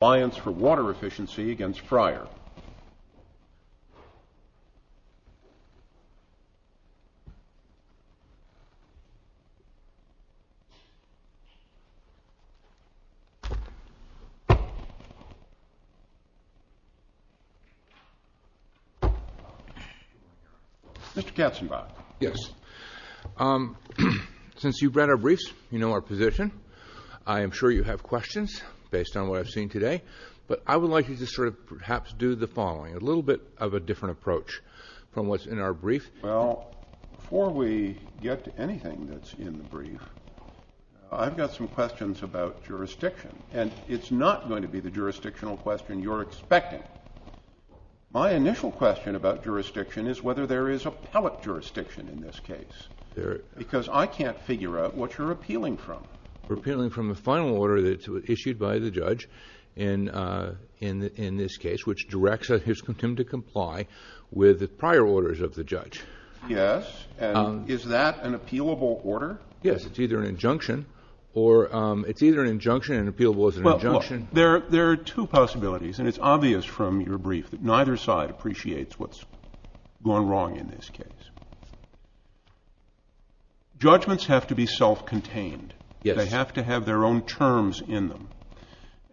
Alliance for Water Efficiency v. Fryer Mr. Katzenbach. Yes. Since you've read our briefs, you know our position. I am sure you have questions based on what I've seen today. But I would like you to sort of perhaps do the following, a little bit of a different approach from what's in our brief. Well, before we get to anything that's in the brief, I've got some questions about jurisdiction. And it's not going to be the jurisdictional question you're expecting. My initial question about jurisdiction is whether there is appellate jurisdiction in this case. Because I can't figure out what you're appealing from. We're appealing from the final order that was issued by the judge in this case, which directs him to comply with the prior orders of the judge. Yes. And is that an appealable order? Yes. It's either an injunction and appealable is an injunction. There are two possibilities, and it's obvious from your brief that neither side appreciates what's gone wrong in this case. Judgments have to be self-contained. Yes. They have to have their own terms in them.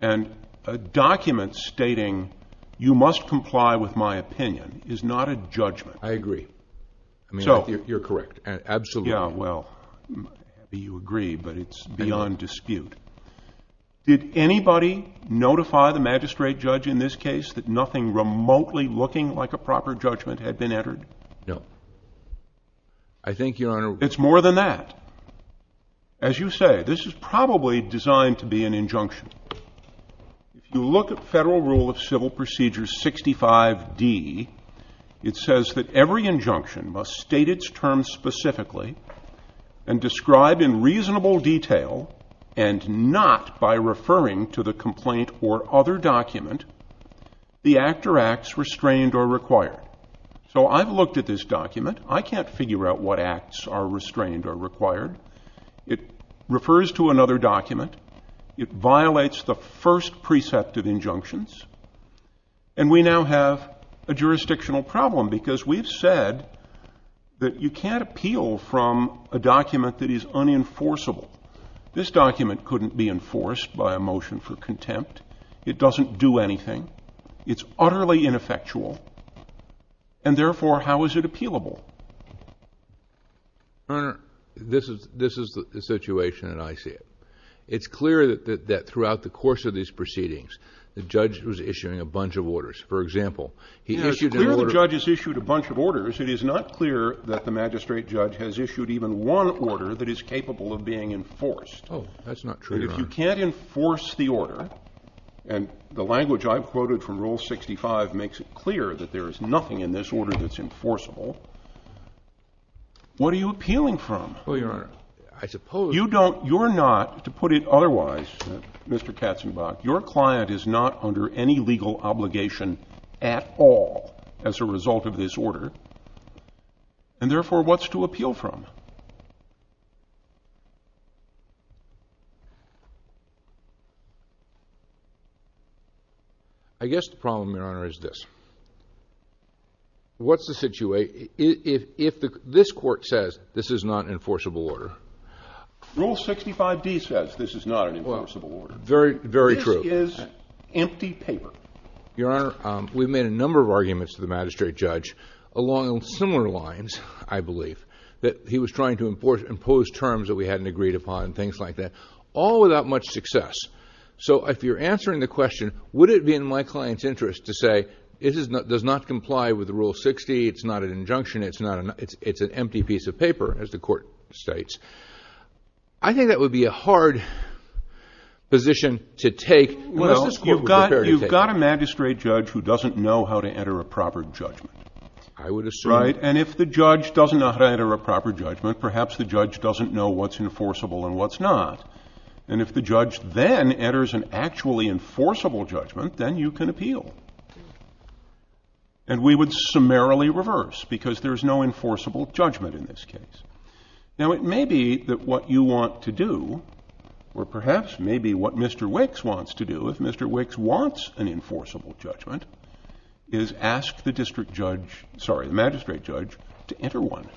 And a document stating you must comply with my opinion is not a judgment. I agree. I mean, you're correct. Absolutely. Yeah, well, you agree, but it's beyond dispute. Did anybody notify the magistrate judge in this case that nothing remotely looking like a proper judgment had been entered? No. I think, Your Honor — It's more than that. As you say, this is probably designed to be an injunction. If you look at Federal Rule of Civil Procedure 65d, it says that every injunction must state its term specifically and describe in reasonable detail, and not by referring to the complaint or other document, the act or acts restrained or required. So I've looked at this document. I can't figure out what acts are restrained or required. It refers to another document. It violates the first precept of injunctions. And we now have a jurisdictional problem, because we've said that you can't appeal from a document that is unenforceable. This document couldn't be enforced by a motion for contempt. It doesn't do anything. It's utterly ineffectual. And therefore, how is it appealable? Your Honor, this is the situation, and I see it. It's clear that throughout the course of these proceedings, the judge was issuing a bunch of orders. For example, he issued an order — It's clear the judge has issued a bunch of orders. It is not clear that the magistrate judge has issued even one order that is capable of being enforced. Oh, that's not true, Your Honor. And if you can't enforce the order, and the language I've quoted from Rule 65 makes it clear that there is nothing in this order that's enforceable, what are you appealing from? Well, Your Honor, I suppose — You don't — you're not, to put it otherwise, Mr. Katzenbach, your client is not under any legal obligation at all as a result of this order. And therefore, what's to appeal from? I guess the problem, Your Honor, is this. What's the situation if this court says this is not an enforceable order? Rule 65d says this is not an enforceable order. Very true. This is empty paper. Your Honor, we've made a number of arguments to the magistrate judge along similar lines, I believe, that he was trying to impose terms that we hadn't agreed upon, things like that, all without much success. So if you're answering the question, would it be in my client's interest to say, it does not comply with Rule 60, it's not an injunction, it's an empty piece of paper, as the court states, I think that would be a hard position to take unless this court were prepared to take it. Well, you've got a magistrate judge who doesn't know how to enter a proper judgment. I would assume — Right? And if the judge doesn't know how to enter a proper judgment, perhaps the judge doesn't know what's enforceable and what's not. And if the judge then enters an actually enforceable judgment, then you can appeal. And we would summarily reverse, because there's no enforceable judgment in this case. Now, it may be that what you want to do, or perhaps maybe what Mr. Wicks wants to do, if Mr. Wicks wants an enforceable judgment, is ask the magistrate judge to enter one.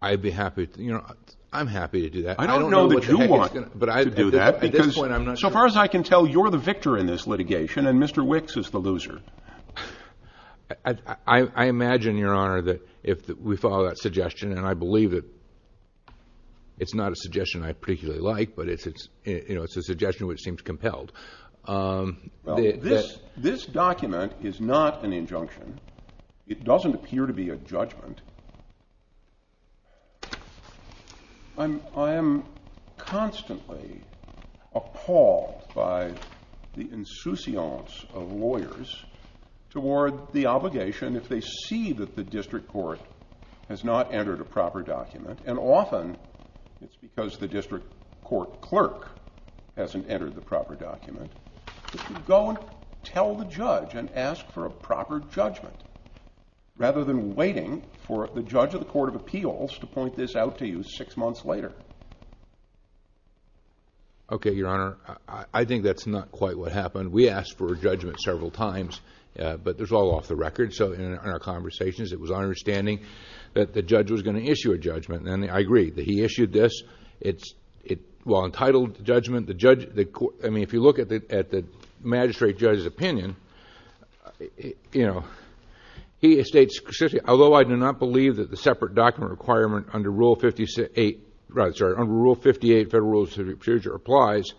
I'd be happy to — you know, I'm happy to do that. I don't know what the heck he's going to — I don't know that you want to do that, because so far as I can tell, you're the victor in this litigation, and Mr. Wicks is the loser. I imagine, Your Honor, that if we follow that suggestion, and I believe that it's not a suggestion I particularly like, but it's a suggestion which seems compelled. Well, this document is not an injunction. It doesn't appear to be a judgment. I am constantly appalled by the insouciance of lawyers toward the obligation, if they see that the district court has not entered a proper document, and often it's because the district court clerk hasn't entered the proper document, that you go and tell the judge and ask for a proper judgment, rather than waiting for the judge of the Court of Appeals to point this out to you six months later. Okay, Your Honor, I think that's not quite what happened. We asked for a judgment several times, but there's all off the record. So in our conversations, it was our understanding that the judge was going to issue a judgment, and I agree that he issued this. It's well-entitled judgment. I mean, if you look at the magistrate judge's opinion, he states, although I do not believe that the separate document requirement under Rule 58 Federal Rules of Procedure applies,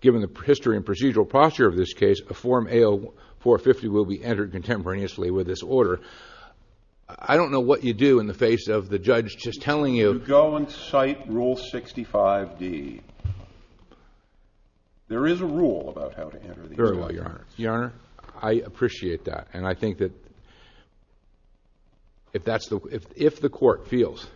given the history and procedural posture of this case, a form A.O. 450 will be entered contemporaneously with this order. I don't know what you do in the face of the judge just telling you— You go and cite Rule 65d. There is a rule about how to enter these rules. Very well, Your Honor. Your Honor, I appreciate that, and I think that if the court feels,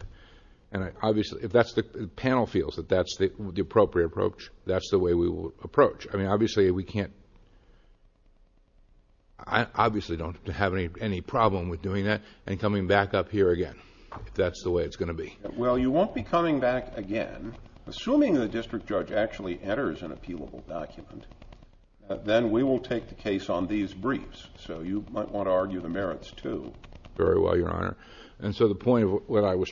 and obviously if the panel feels that that's the appropriate approach, that's the way we will approach. I mean, obviously we can't— I obviously don't have any problem with doing that and coming back up here again, if that's the way it's going to be. Well, you won't be coming back again. Assuming the district judge actually enters an appealable document, then we will take the case on these briefs. So you might want to argue the merits, too. Very well, Your Honor. And so the point of what I was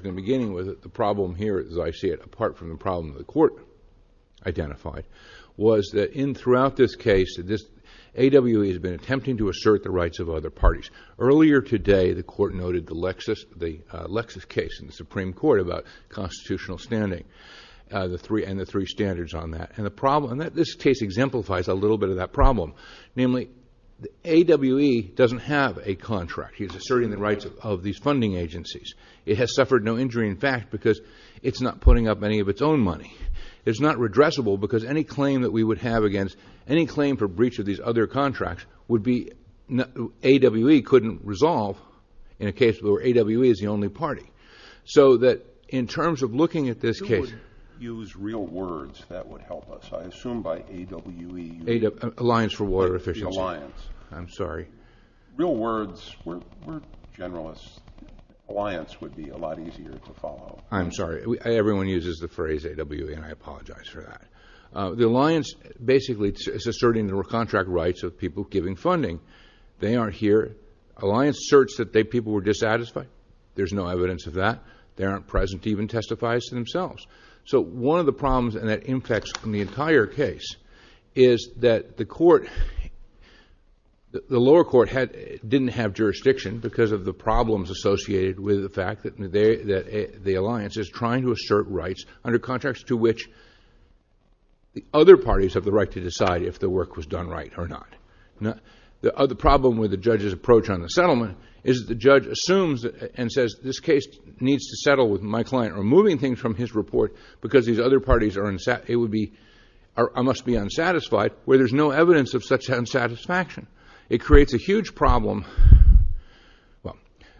beginning with, the problem here, as I see it, apart from the problem the court identified, was that throughout this case, A.W.E. has been attempting to assert the rights of other parties. Earlier today, the court noted the Lexis case in the Supreme Court about constitutional standing and the three standards on that. And this case exemplifies a little bit of that problem. Namely, A.W.E. doesn't have a contract. He's asserting the rights of these funding agencies. It has suffered no injury, in fact, because it's not putting up any of its own money. It's not redressable because any claim that we would have against any claim for breach of these other contracts would be—A.W.E. couldn't resolve in a case where A.W.E. is the only party. So that in terms of looking at this case— Who would use real words that would help us? I assume by A.W.E. you mean— Alliance for Water Efficiency. The alliance. I'm sorry. Real words. We're generalists. Alliance would be a lot easier to follow. I'm sorry. Everyone uses the phrase A.W.E., and I apologize for that. The alliance basically is asserting the contract rights of people giving funding. They aren't here. Alliance asserts that people were dissatisfied. They aren't present to even testify as to themselves. So one of the problems, and that impacts on the entire case, is that the lower court didn't have jurisdiction because of the problems associated with the fact that the alliance is trying to assert rights under contracts to which the other parties have the right to decide if the work was done right or not. The problem with the judge's approach on the settlement is that the judge assumes and says, this case needs to settle with my client, removing things from his report because these other parties are— it would be—I must be unsatisfied, where there's no evidence of such unsatisfaction. It creates a huge problem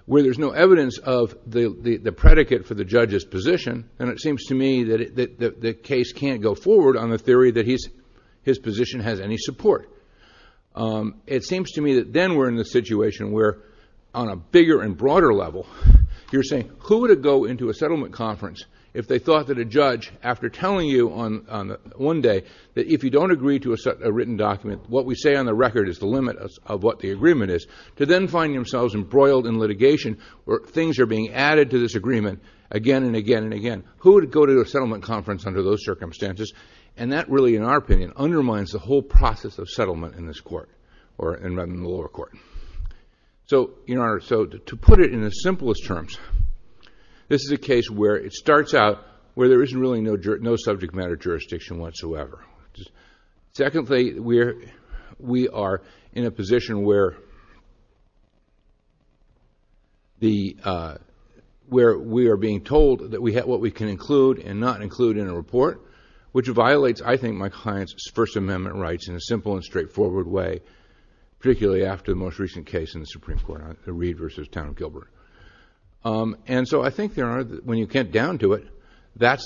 where there's no evidence of the predicate for the judge's position, and it seems to me that the case can't go forward on the theory that his position has any support. It seems to me that then we're in the situation where, on a bigger and broader level, you're saying, who would go into a settlement conference if they thought that a judge, after telling you one day that if you don't agree to a written document, what we say on the record is the limit of what the agreement is, to then find themselves embroiled in litigation where things are being added to this agreement again and again and again. Who would go to a settlement conference under those circumstances? And that really, in our opinion, undermines the whole process of settlement in this court or in the lower court. So, Your Honor, to put it in the simplest terms, this is a case where it starts out where there is really no subject matter jurisdiction whatsoever. Secondly, we are in a position where we are being told what we can include and not include in a report, which violates, I think, my client's First Amendment rights in a simple and straightforward way, particularly after the most recent case in the Supreme Court, the Reed v. Town of Gilbert. And so I think, Your Honor, when you get down to it, that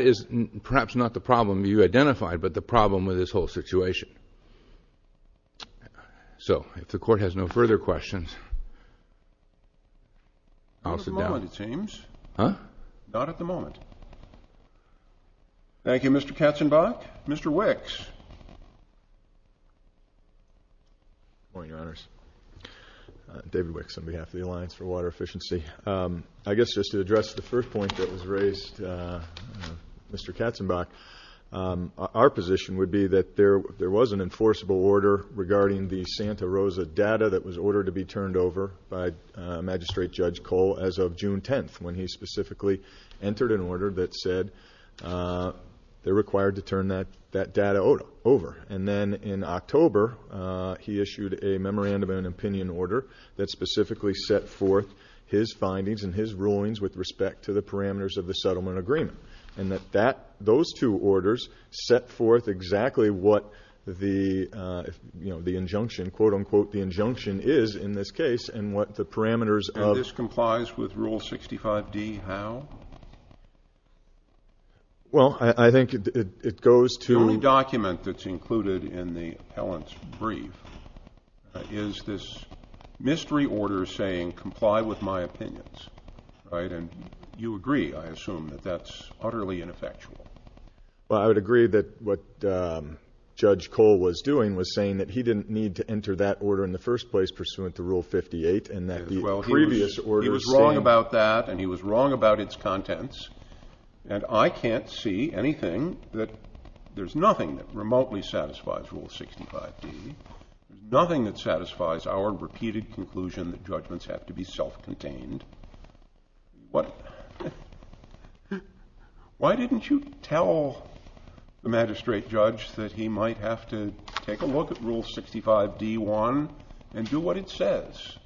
is perhaps not the problem you identified, but the problem with this whole situation. So, if the Court has no further questions, I'll sit down. Not at the moment, it seems. Huh? Not at the moment. Thank you, Mr. Katzenbach. Mr. Wicks. Good morning, Your Honors. David Wicks on behalf of the Alliance for Water Efficiency. I guess just to address the first point that was raised, Mr. Katzenbach, our position would be that there was an enforceable order regarding the Santa Rosa data that was ordered to be turned over by Magistrate Judge Cole as of June 10th, when he specifically entered an order that said they're required to turn that data over. And then in October, he issued a memorandum and an opinion order that specifically set forth his findings and his rulings with respect to the parameters of the settlement agreement, and that those two orders set forth exactly what the, you know, the injunction, quote, unquote, the injunction is in this case and what the parameters of... And this complies with Rule 65D how? Well, I think it goes to... The only document that's included in the appellant's brief is this mystery order saying, comply with my opinions, right? And you agree, I assume, that that's utterly ineffectual. Well, I would agree that what Judge Cole was doing was saying that he didn't need to enter that order in the first place pursuant to Rule 58 and that the previous order saying... Well, he was wrong about that and he was wrong about its contents, and I can't see anything that... There's nothing that remotely satisfies Rule 65D, nothing that satisfies our repeated conclusion that judgments have to be self-contained. Why didn't you tell the magistrate judge that he might have to take a look at Rule 65D-1 and do what it says?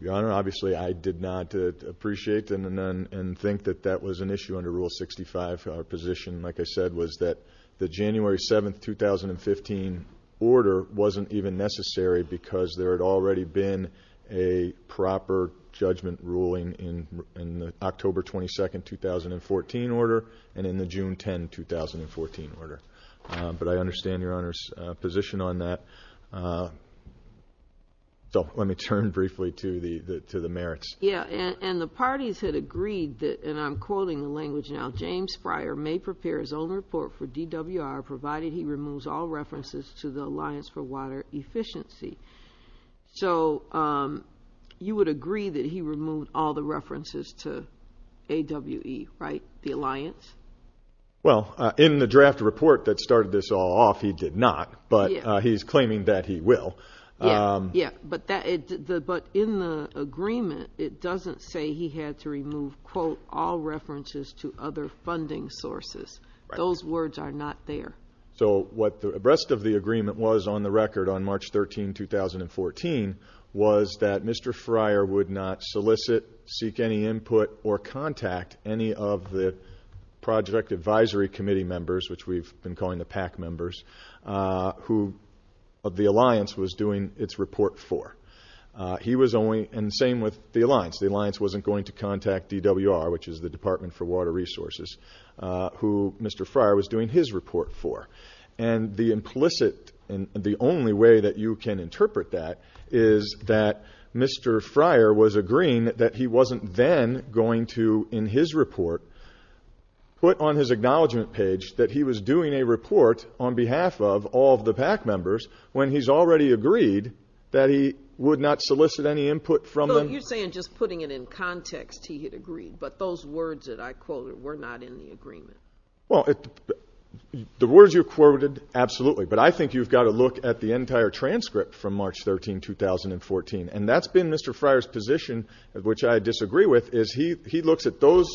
Your Honor, obviously I did not appreciate and think that that was an issue under Rule 65. Our position, like I said, was that the January 7, 2015 order wasn't even necessary because there had already been a proper judgment ruling in the October 22, 2014 order and in the June 10, 2014 order. But I understand Your Honor's position on that. So let me turn briefly to the merits. Yes, and the parties had agreed that, and I'm quoting the language now, James Fryer may prepare his own report for DWR provided he removes all references to the Alliance for Water Efficiency. So you would agree that he removed all the references to AWE, right, the alliance? Well, in the draft report that started this all off, he did not, but he's claiming that he will. Yes, but in the agreement, it doesn't say he had to remove, quote, all references to other funding sources. Those words are not there. So what the rest of the agreement was on the record on March 13, 2014, was that Mr. Fryer would not solicit, seek any input, or contact any of the project advisory committee members, which we've been calling the PAC members, who the alliance was doing its report for. He was only, and same with the alliance, the alliance wasn't going to contact DWR, which is the Department for Water Resources, who Mr. Fryer was doing his report for. And the implicit and the only way that you can interpret that is that Mr. Fryer was agreeing that he wasn't then going to, in his report, put on his acknowledgment page that he was doing a report on behalf of all of the PAC members when he's already agreed that he would not solicit any input from them. You're saying just putting it in context he had agreed, but those words that I quoted were not in the agreement. Well, the words you quoted, absolutely. But I think you've got to look at the entire transcript from March 13, 2014. And that's been Mr. Fryer's position, which I disagree with, is he looks at those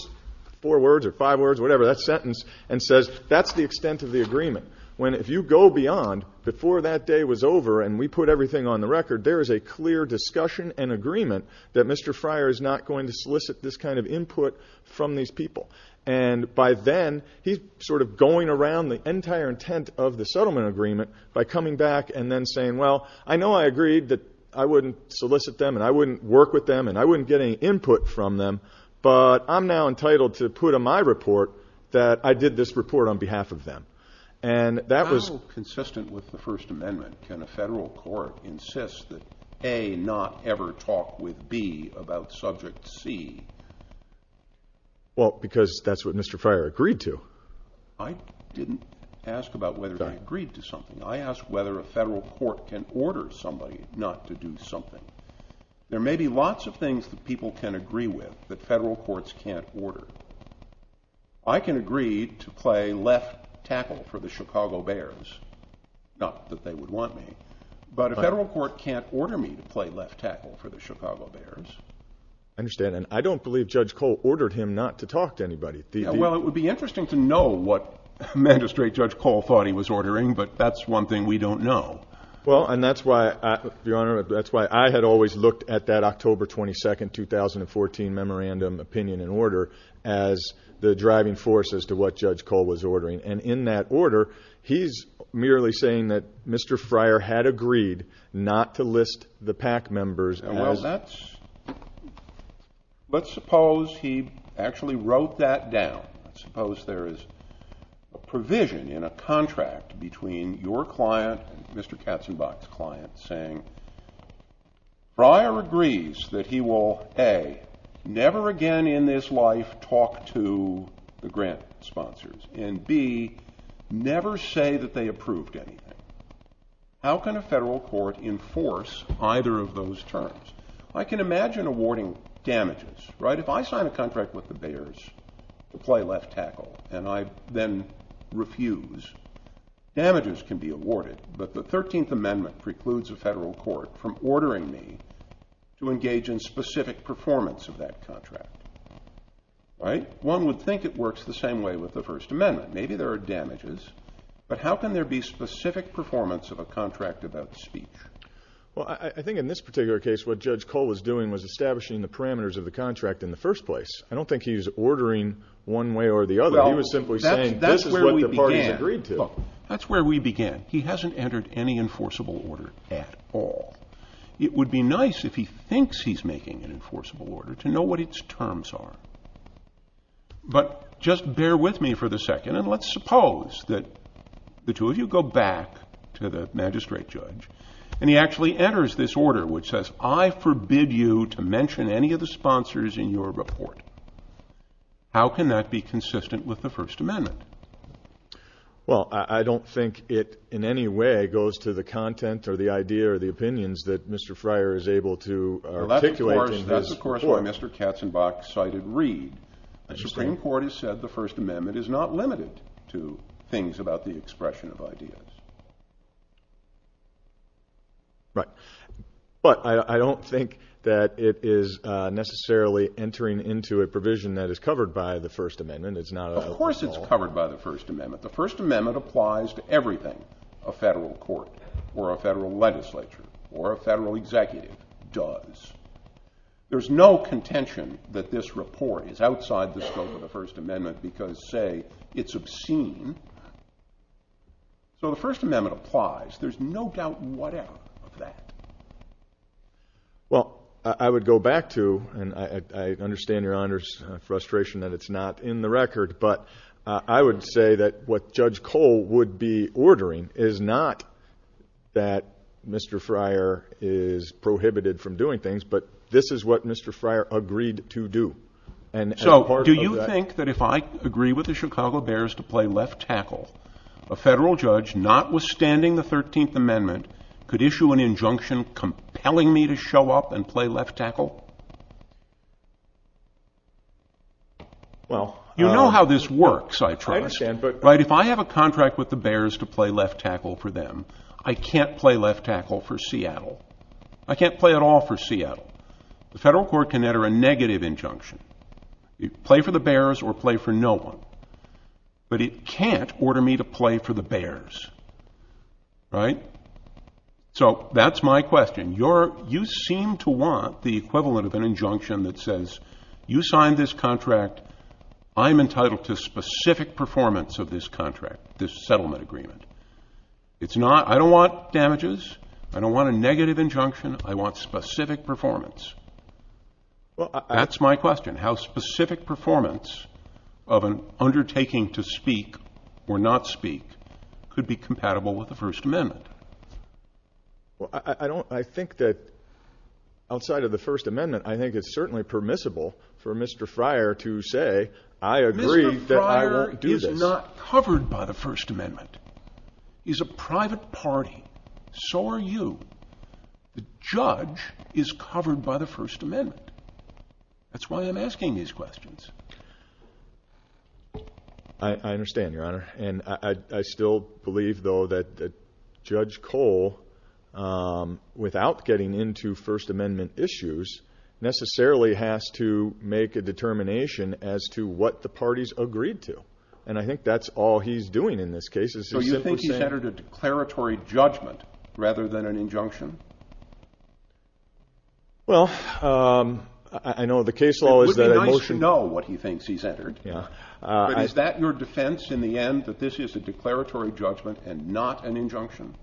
four words or five words, whatever, that sentence, and says that's the extent of the agreement. When if you go beyond before that day was over and we put everything on the record, there is a clear discussion and agreement that Mr. Fryer is not going to solicit this kind of input from these people. And by then he's sort of going around the entire intent of the settlement agreement by coming back and then saying, well, I know I agreed that I wouldn't solicit them and I wouldn't work with them and I wouldn't get any input from them, but I'm now entitled to put on my report that I did this report on behalf of them. How consistent with the First Amendment can a federal court insist that, A, not ever talk with B about subject C? Well, because that's what Mr. Fryer agreed to. I didn't ask about whether they agreed to something. I asked whether a federal court can order somebody not to do something. There may be lots of things that people can agree with that federal courts can't order. I can agree to play left tackle for the Chicago Bears, not that they would want me, but a federal court can't order me to play left tackle for the Chicago Bears. I understand. And I don't believe Judge Cole ordered him not to talk to anybody. Well, it would be interesting to know what magistrate Judge Cole thought he was ordering, but that's one thing we don't know. Well, and that's why, Your Honor, that's why I had always looked at that October 22, 2014 memorandum opinion and order as the driving force as to what Judge Cole was ordering. And in that order, he's merely saying that Mr. Fryer had agreed not to list the PAC members as Let's suppose he actually wrote that down. Let's suppose there is a provision in a contract between your client and Mr. Katzenbach's client saying Fryer agrees that he will, A, never again in this life talk to the grant sponsors, and, B, never say that they approved anything. How can a federal court enforce either of those terms? I can imagine awarding damages, right? If I sign a contract with the Bears to play left tackle and I then refuse, damages can be awarded, but the 13th Amendment precludes a federal court from ordering me to engage in specific performance of that contract, right? One would think it works the same way with the First Amendment. Maybe there are damages, but how can there be specific performance of a contract about speech? Well, I think in this particular case what Judge Cole was doing was establishing the parameters of the contract in the first place. I don't think he was ordering one way or the other. He was simply saying this is what the parties agreed to. Look, that's where we began. He hasn't entered any enforceable order at all. It would be nice if he thinks he's making an enforceable order to know what its terms are. But just bear with me for the second, and let's suppose that the two of you go back to the magistrate judge and he actually enters this order which says, I forbid you to mention any of the sponsors in your report. How can that be consistent with the First Amendment? Well, I don't think it in any way goes to the content or the idea or the opinions that Mr. Fryer is able to articulate. That's, of course, why Mr. Katzenbach cited Reed. The Supreme Court has said the First Amendment is not limited to things about the expression of ideas. Right. But I don't think that it is necessarily entering into a provision that is covered by the First Amendment. Of course it's covered by the First Amendment. The First Amendment applies to everything a federal court or a federal legislature or a federal executive does. There's no contention that this report is outside the scope of the First Amendment because, say, it's obscene. So the First Amendment applies. There's no doubt whatever of that. Well, I would go back to, and I understand Your Honor's frustration that it's not in the record, but I would say that what Judge Cole would be ordering is not that Mr. Fryer is prohibited from doing things, but this is what Mr. Fryer agreed to do. So do you think that if I agree with the Chicago Bears to play left tackle, a federal judge, notwithstanding the 13th Amendment, could issue an injunction compelling me to show up and play left tackle? You know how this works, I trust. If I have a contract with the Bears to play left tackle for them, I can't play left tackle for Seattle. I can't play at all for Seattle. The federal court can enter a negative injunction. Play for the Bears or play for no one. But it can't order me to play for the Bears. Right? So that's my question. You seem to want the equivalent of an injunction that says you signed this contract, I'm entitled to specific performance of this contract, this settlement agreement. I don't want damages. I don't want a negative injunction. I want specific performance. That's my question, how specific performance of an undertaking to speak or not speak could be compatible with the First Amendment. Well, I think that outside of the First Amendment, I think it's certainly permissible for Mr. Fryer to say, I agree that I won't do this. Mr. Fryer is not covered by the First Amendment. He's a private party. So are you. The judge is covered by the First Amendment. That's why I'm asking these questions. I understand, Your Honor. And I still believe, though, that Judge Cole, without getting into First Amendment issues, necessarily has to make a determination as to what the parties agreed to. And I think that's all he's doing in this case. So you think he's entered a declaratory judgment rather than an injunction? Well, I know the case law is that emotion. It would be nice to know what he thinks he's entered. Is that your defense in the end, that this is a declaratory judgment and not an injunction?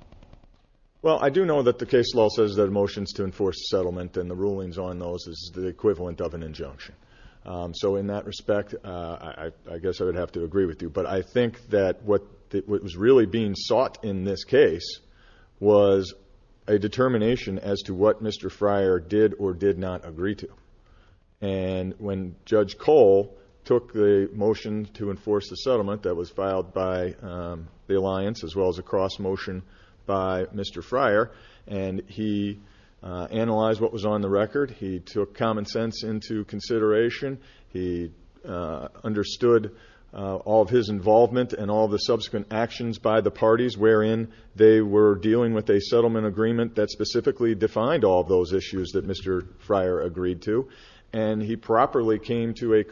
Well, I do know that the case law says that emotions to enforce settlement and the rulings on those is the equivalent of an injunction. So in that respect, I guess I would have to agree with you. But I think that what was really being sought in this case was a determination as to what Mr. Fryer did or did not agree to. And when Judge Cole took the motion to enforce the settlement that was filed by the alliance, as well as a cross-motion by Mr. Fryer, and he analyzed what was on the record, he took common sense into consideration, he understood all of his involvement and all of the subsequent actions by the parties wherein they were dealing with a settlement agreement that specifically defined all of those issues that Mr. Fryer agreed to, and he properly came to a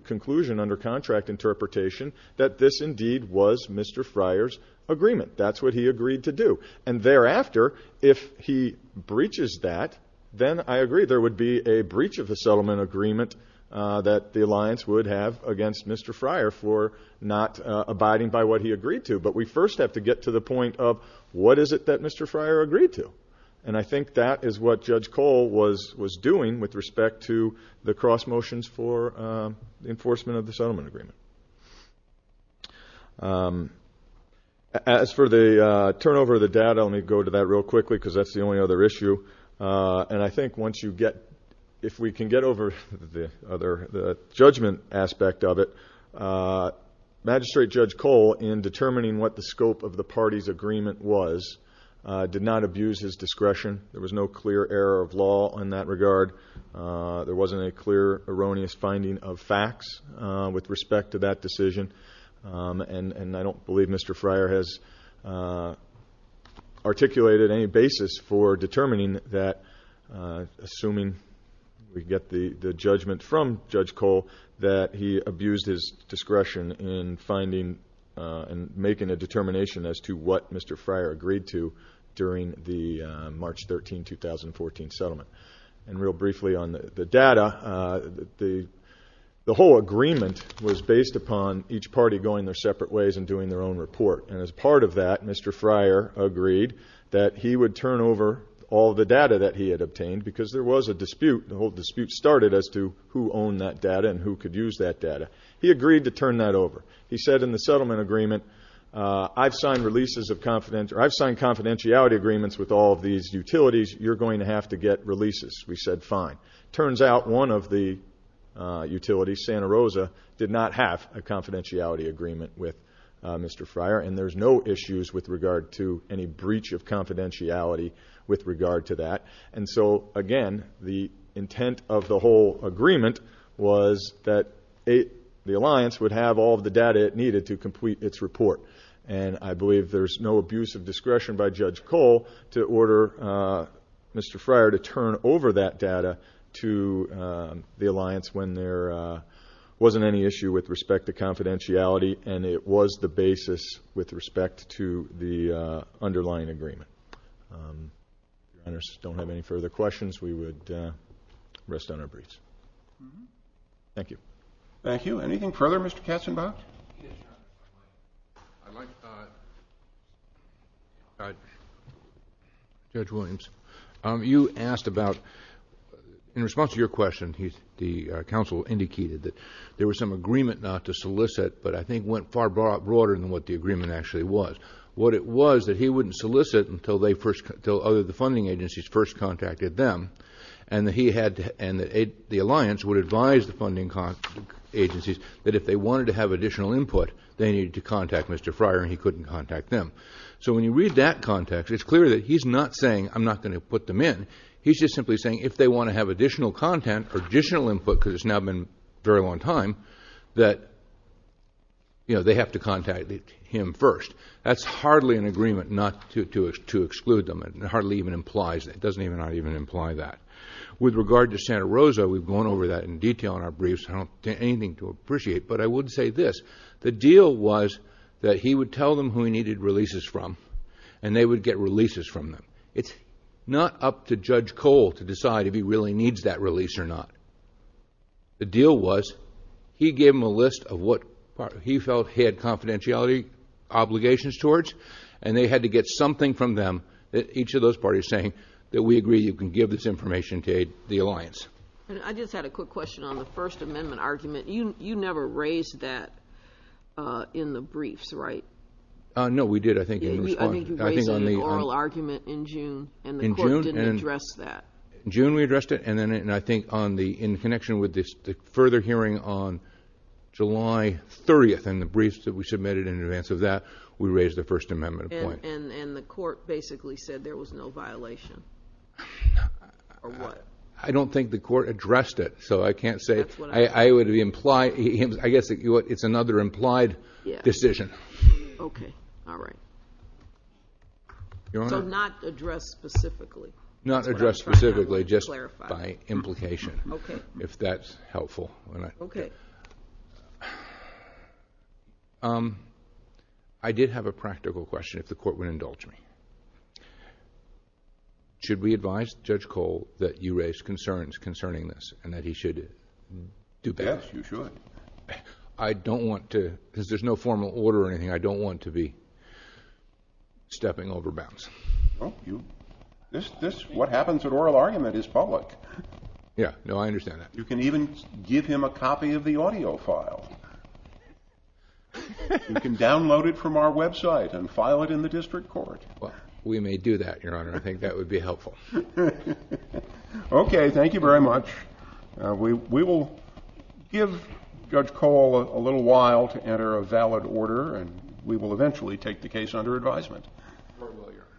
conclusion under contract interpretation that this indeed was Mr. Fryer's agreement. That's what he agreed to do. And thereafter, if he breaches that, then I agree there would be a breach of the settlement agreement that the alliance would have against Mr. Fryer for not abiding by what he agreed to. But we first have to get to the point of what is it that Mr. Fryer agreed to? And I think that is what Judge Cole was doing with respect to the cross-motions for enforcement of the settlement agreement. As for the turnover of the data, let me go to that real quickly because that's the only other issue. And I think once you get, if we can get over the judgment aspect of it, Magistrate Judge Cole, in determining what the scope of the party's agreement was, did not abuse his discretion. There was no clear error of law in that regard. There wasn't a clear erroneous finding of facts with respect to that decision. And I don't believe Mr. Fryer has articulated any basis for determining that, assuming we get the judgment from Judge Cole, that he abused his discretion in finding and making a determination as to what Mr. Fryer agreed to during the March 13, 2014 settlement. And real briefly on the data, the whole agreement was based upon each party going their separate ways and doing their own report. And as part of that, Mr. Fryer agreed that he would turn over all the data that he had obtained because there was a dispute. The whole dispute started as to who owned that data and who could use that data. He agreed to turn that over. He said in the settlement agreement, I've signed confidentiality agreements with all of these utilities. You're going to have to get releases. We said fine. Turns out one of the utilities, Santa Rosa, did not have a confidentiality agreement with Mr. Fryer, and there's no issues with regard to any breach of confidentiality with regard to that. And so, again, the intent of the whole agreement was that the alliance would have all the data it needed to complete its report. And I believe there's no abuse of discretion by Judge Cole to order Mr. Fryer to turn over that data to the alliance when there wasn't any issue with respect to confidentiality, and it was the basis with respect to the underlying agreement. If you don't have any further questions, we would rest on our breech. Thank you. Thank you. Anything further, Mr. Katzenbach? Yes, Your Honor. Judge Williams, you asked about, in response to your question, the counsel indicated that there was some agreement not to solicit, but I think went far broader than what the agreement actually was. What it was that he wouldn't solicit until other funding agencies first contacted them, and the alliance would advise the funding agencies that if they wanted to have additional input, they needed to contact Mr. Fryer, and he couldn't contact them. So when you read that context, it's clear that he's not saying, I'm not going to put them in. He's just simply saying if they want to have additional content or additional input, because it's now been a very long time, that they have to contact him first. That's hardly an agreement not to exclude them. It hardly even implies that. It doesn't even imply that. With regard to Santa Rosa, we've gone over that in detail in our briefs. I don't have anything to appreciate, but I would say this. The deal was that he would tell them who he needed releases from, and they would get releases from them. It's not up to Judge Cole to decide if he really needs that release or not. The deal was he gave them a list of what he felt he had confidentiality obligations towards, and they had to get something from them, each of those parties saying, that we agree you can give this information to aid the alliance. I just had a quick question on the First Amendment argument. You never raised that in the briefs, right? No, we did, I think, in response. I think you raised it in the oral argument in June, and the court didn't address that. In June we addressed it, and I think in connection with the further hearing on July 30th and the briefs that we submitted in advance of that, we raised the First Amendment point. And the court basically said there was no violation, or what? I don't think the court addressed it, so I can't say. I guess it's another implied decision. Okay, all right. So not addressed specifically? Not addressed specifically, just by implication, if that's helpful. Okay. I did have a practical question, if the court would indulge me. Should we advise Judge Cole that you raised concerns concerning this and that he should do better? Yes, you should. I don't want to, because there's no formal order or anything, I don't want to be stepping over bounds. What happens at oral argument is public. Yeah, no, I understand that. You can even give him a copy of the audio file. You can download it from our website and file it in the district court. We may do that, Your Honor. I think that would be helpful. Okay, thank you very much. We will give Judge Cole a little while to enter a valid order, and we will eventually take the case under advisement.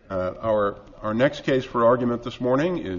Our next case for argument this morning is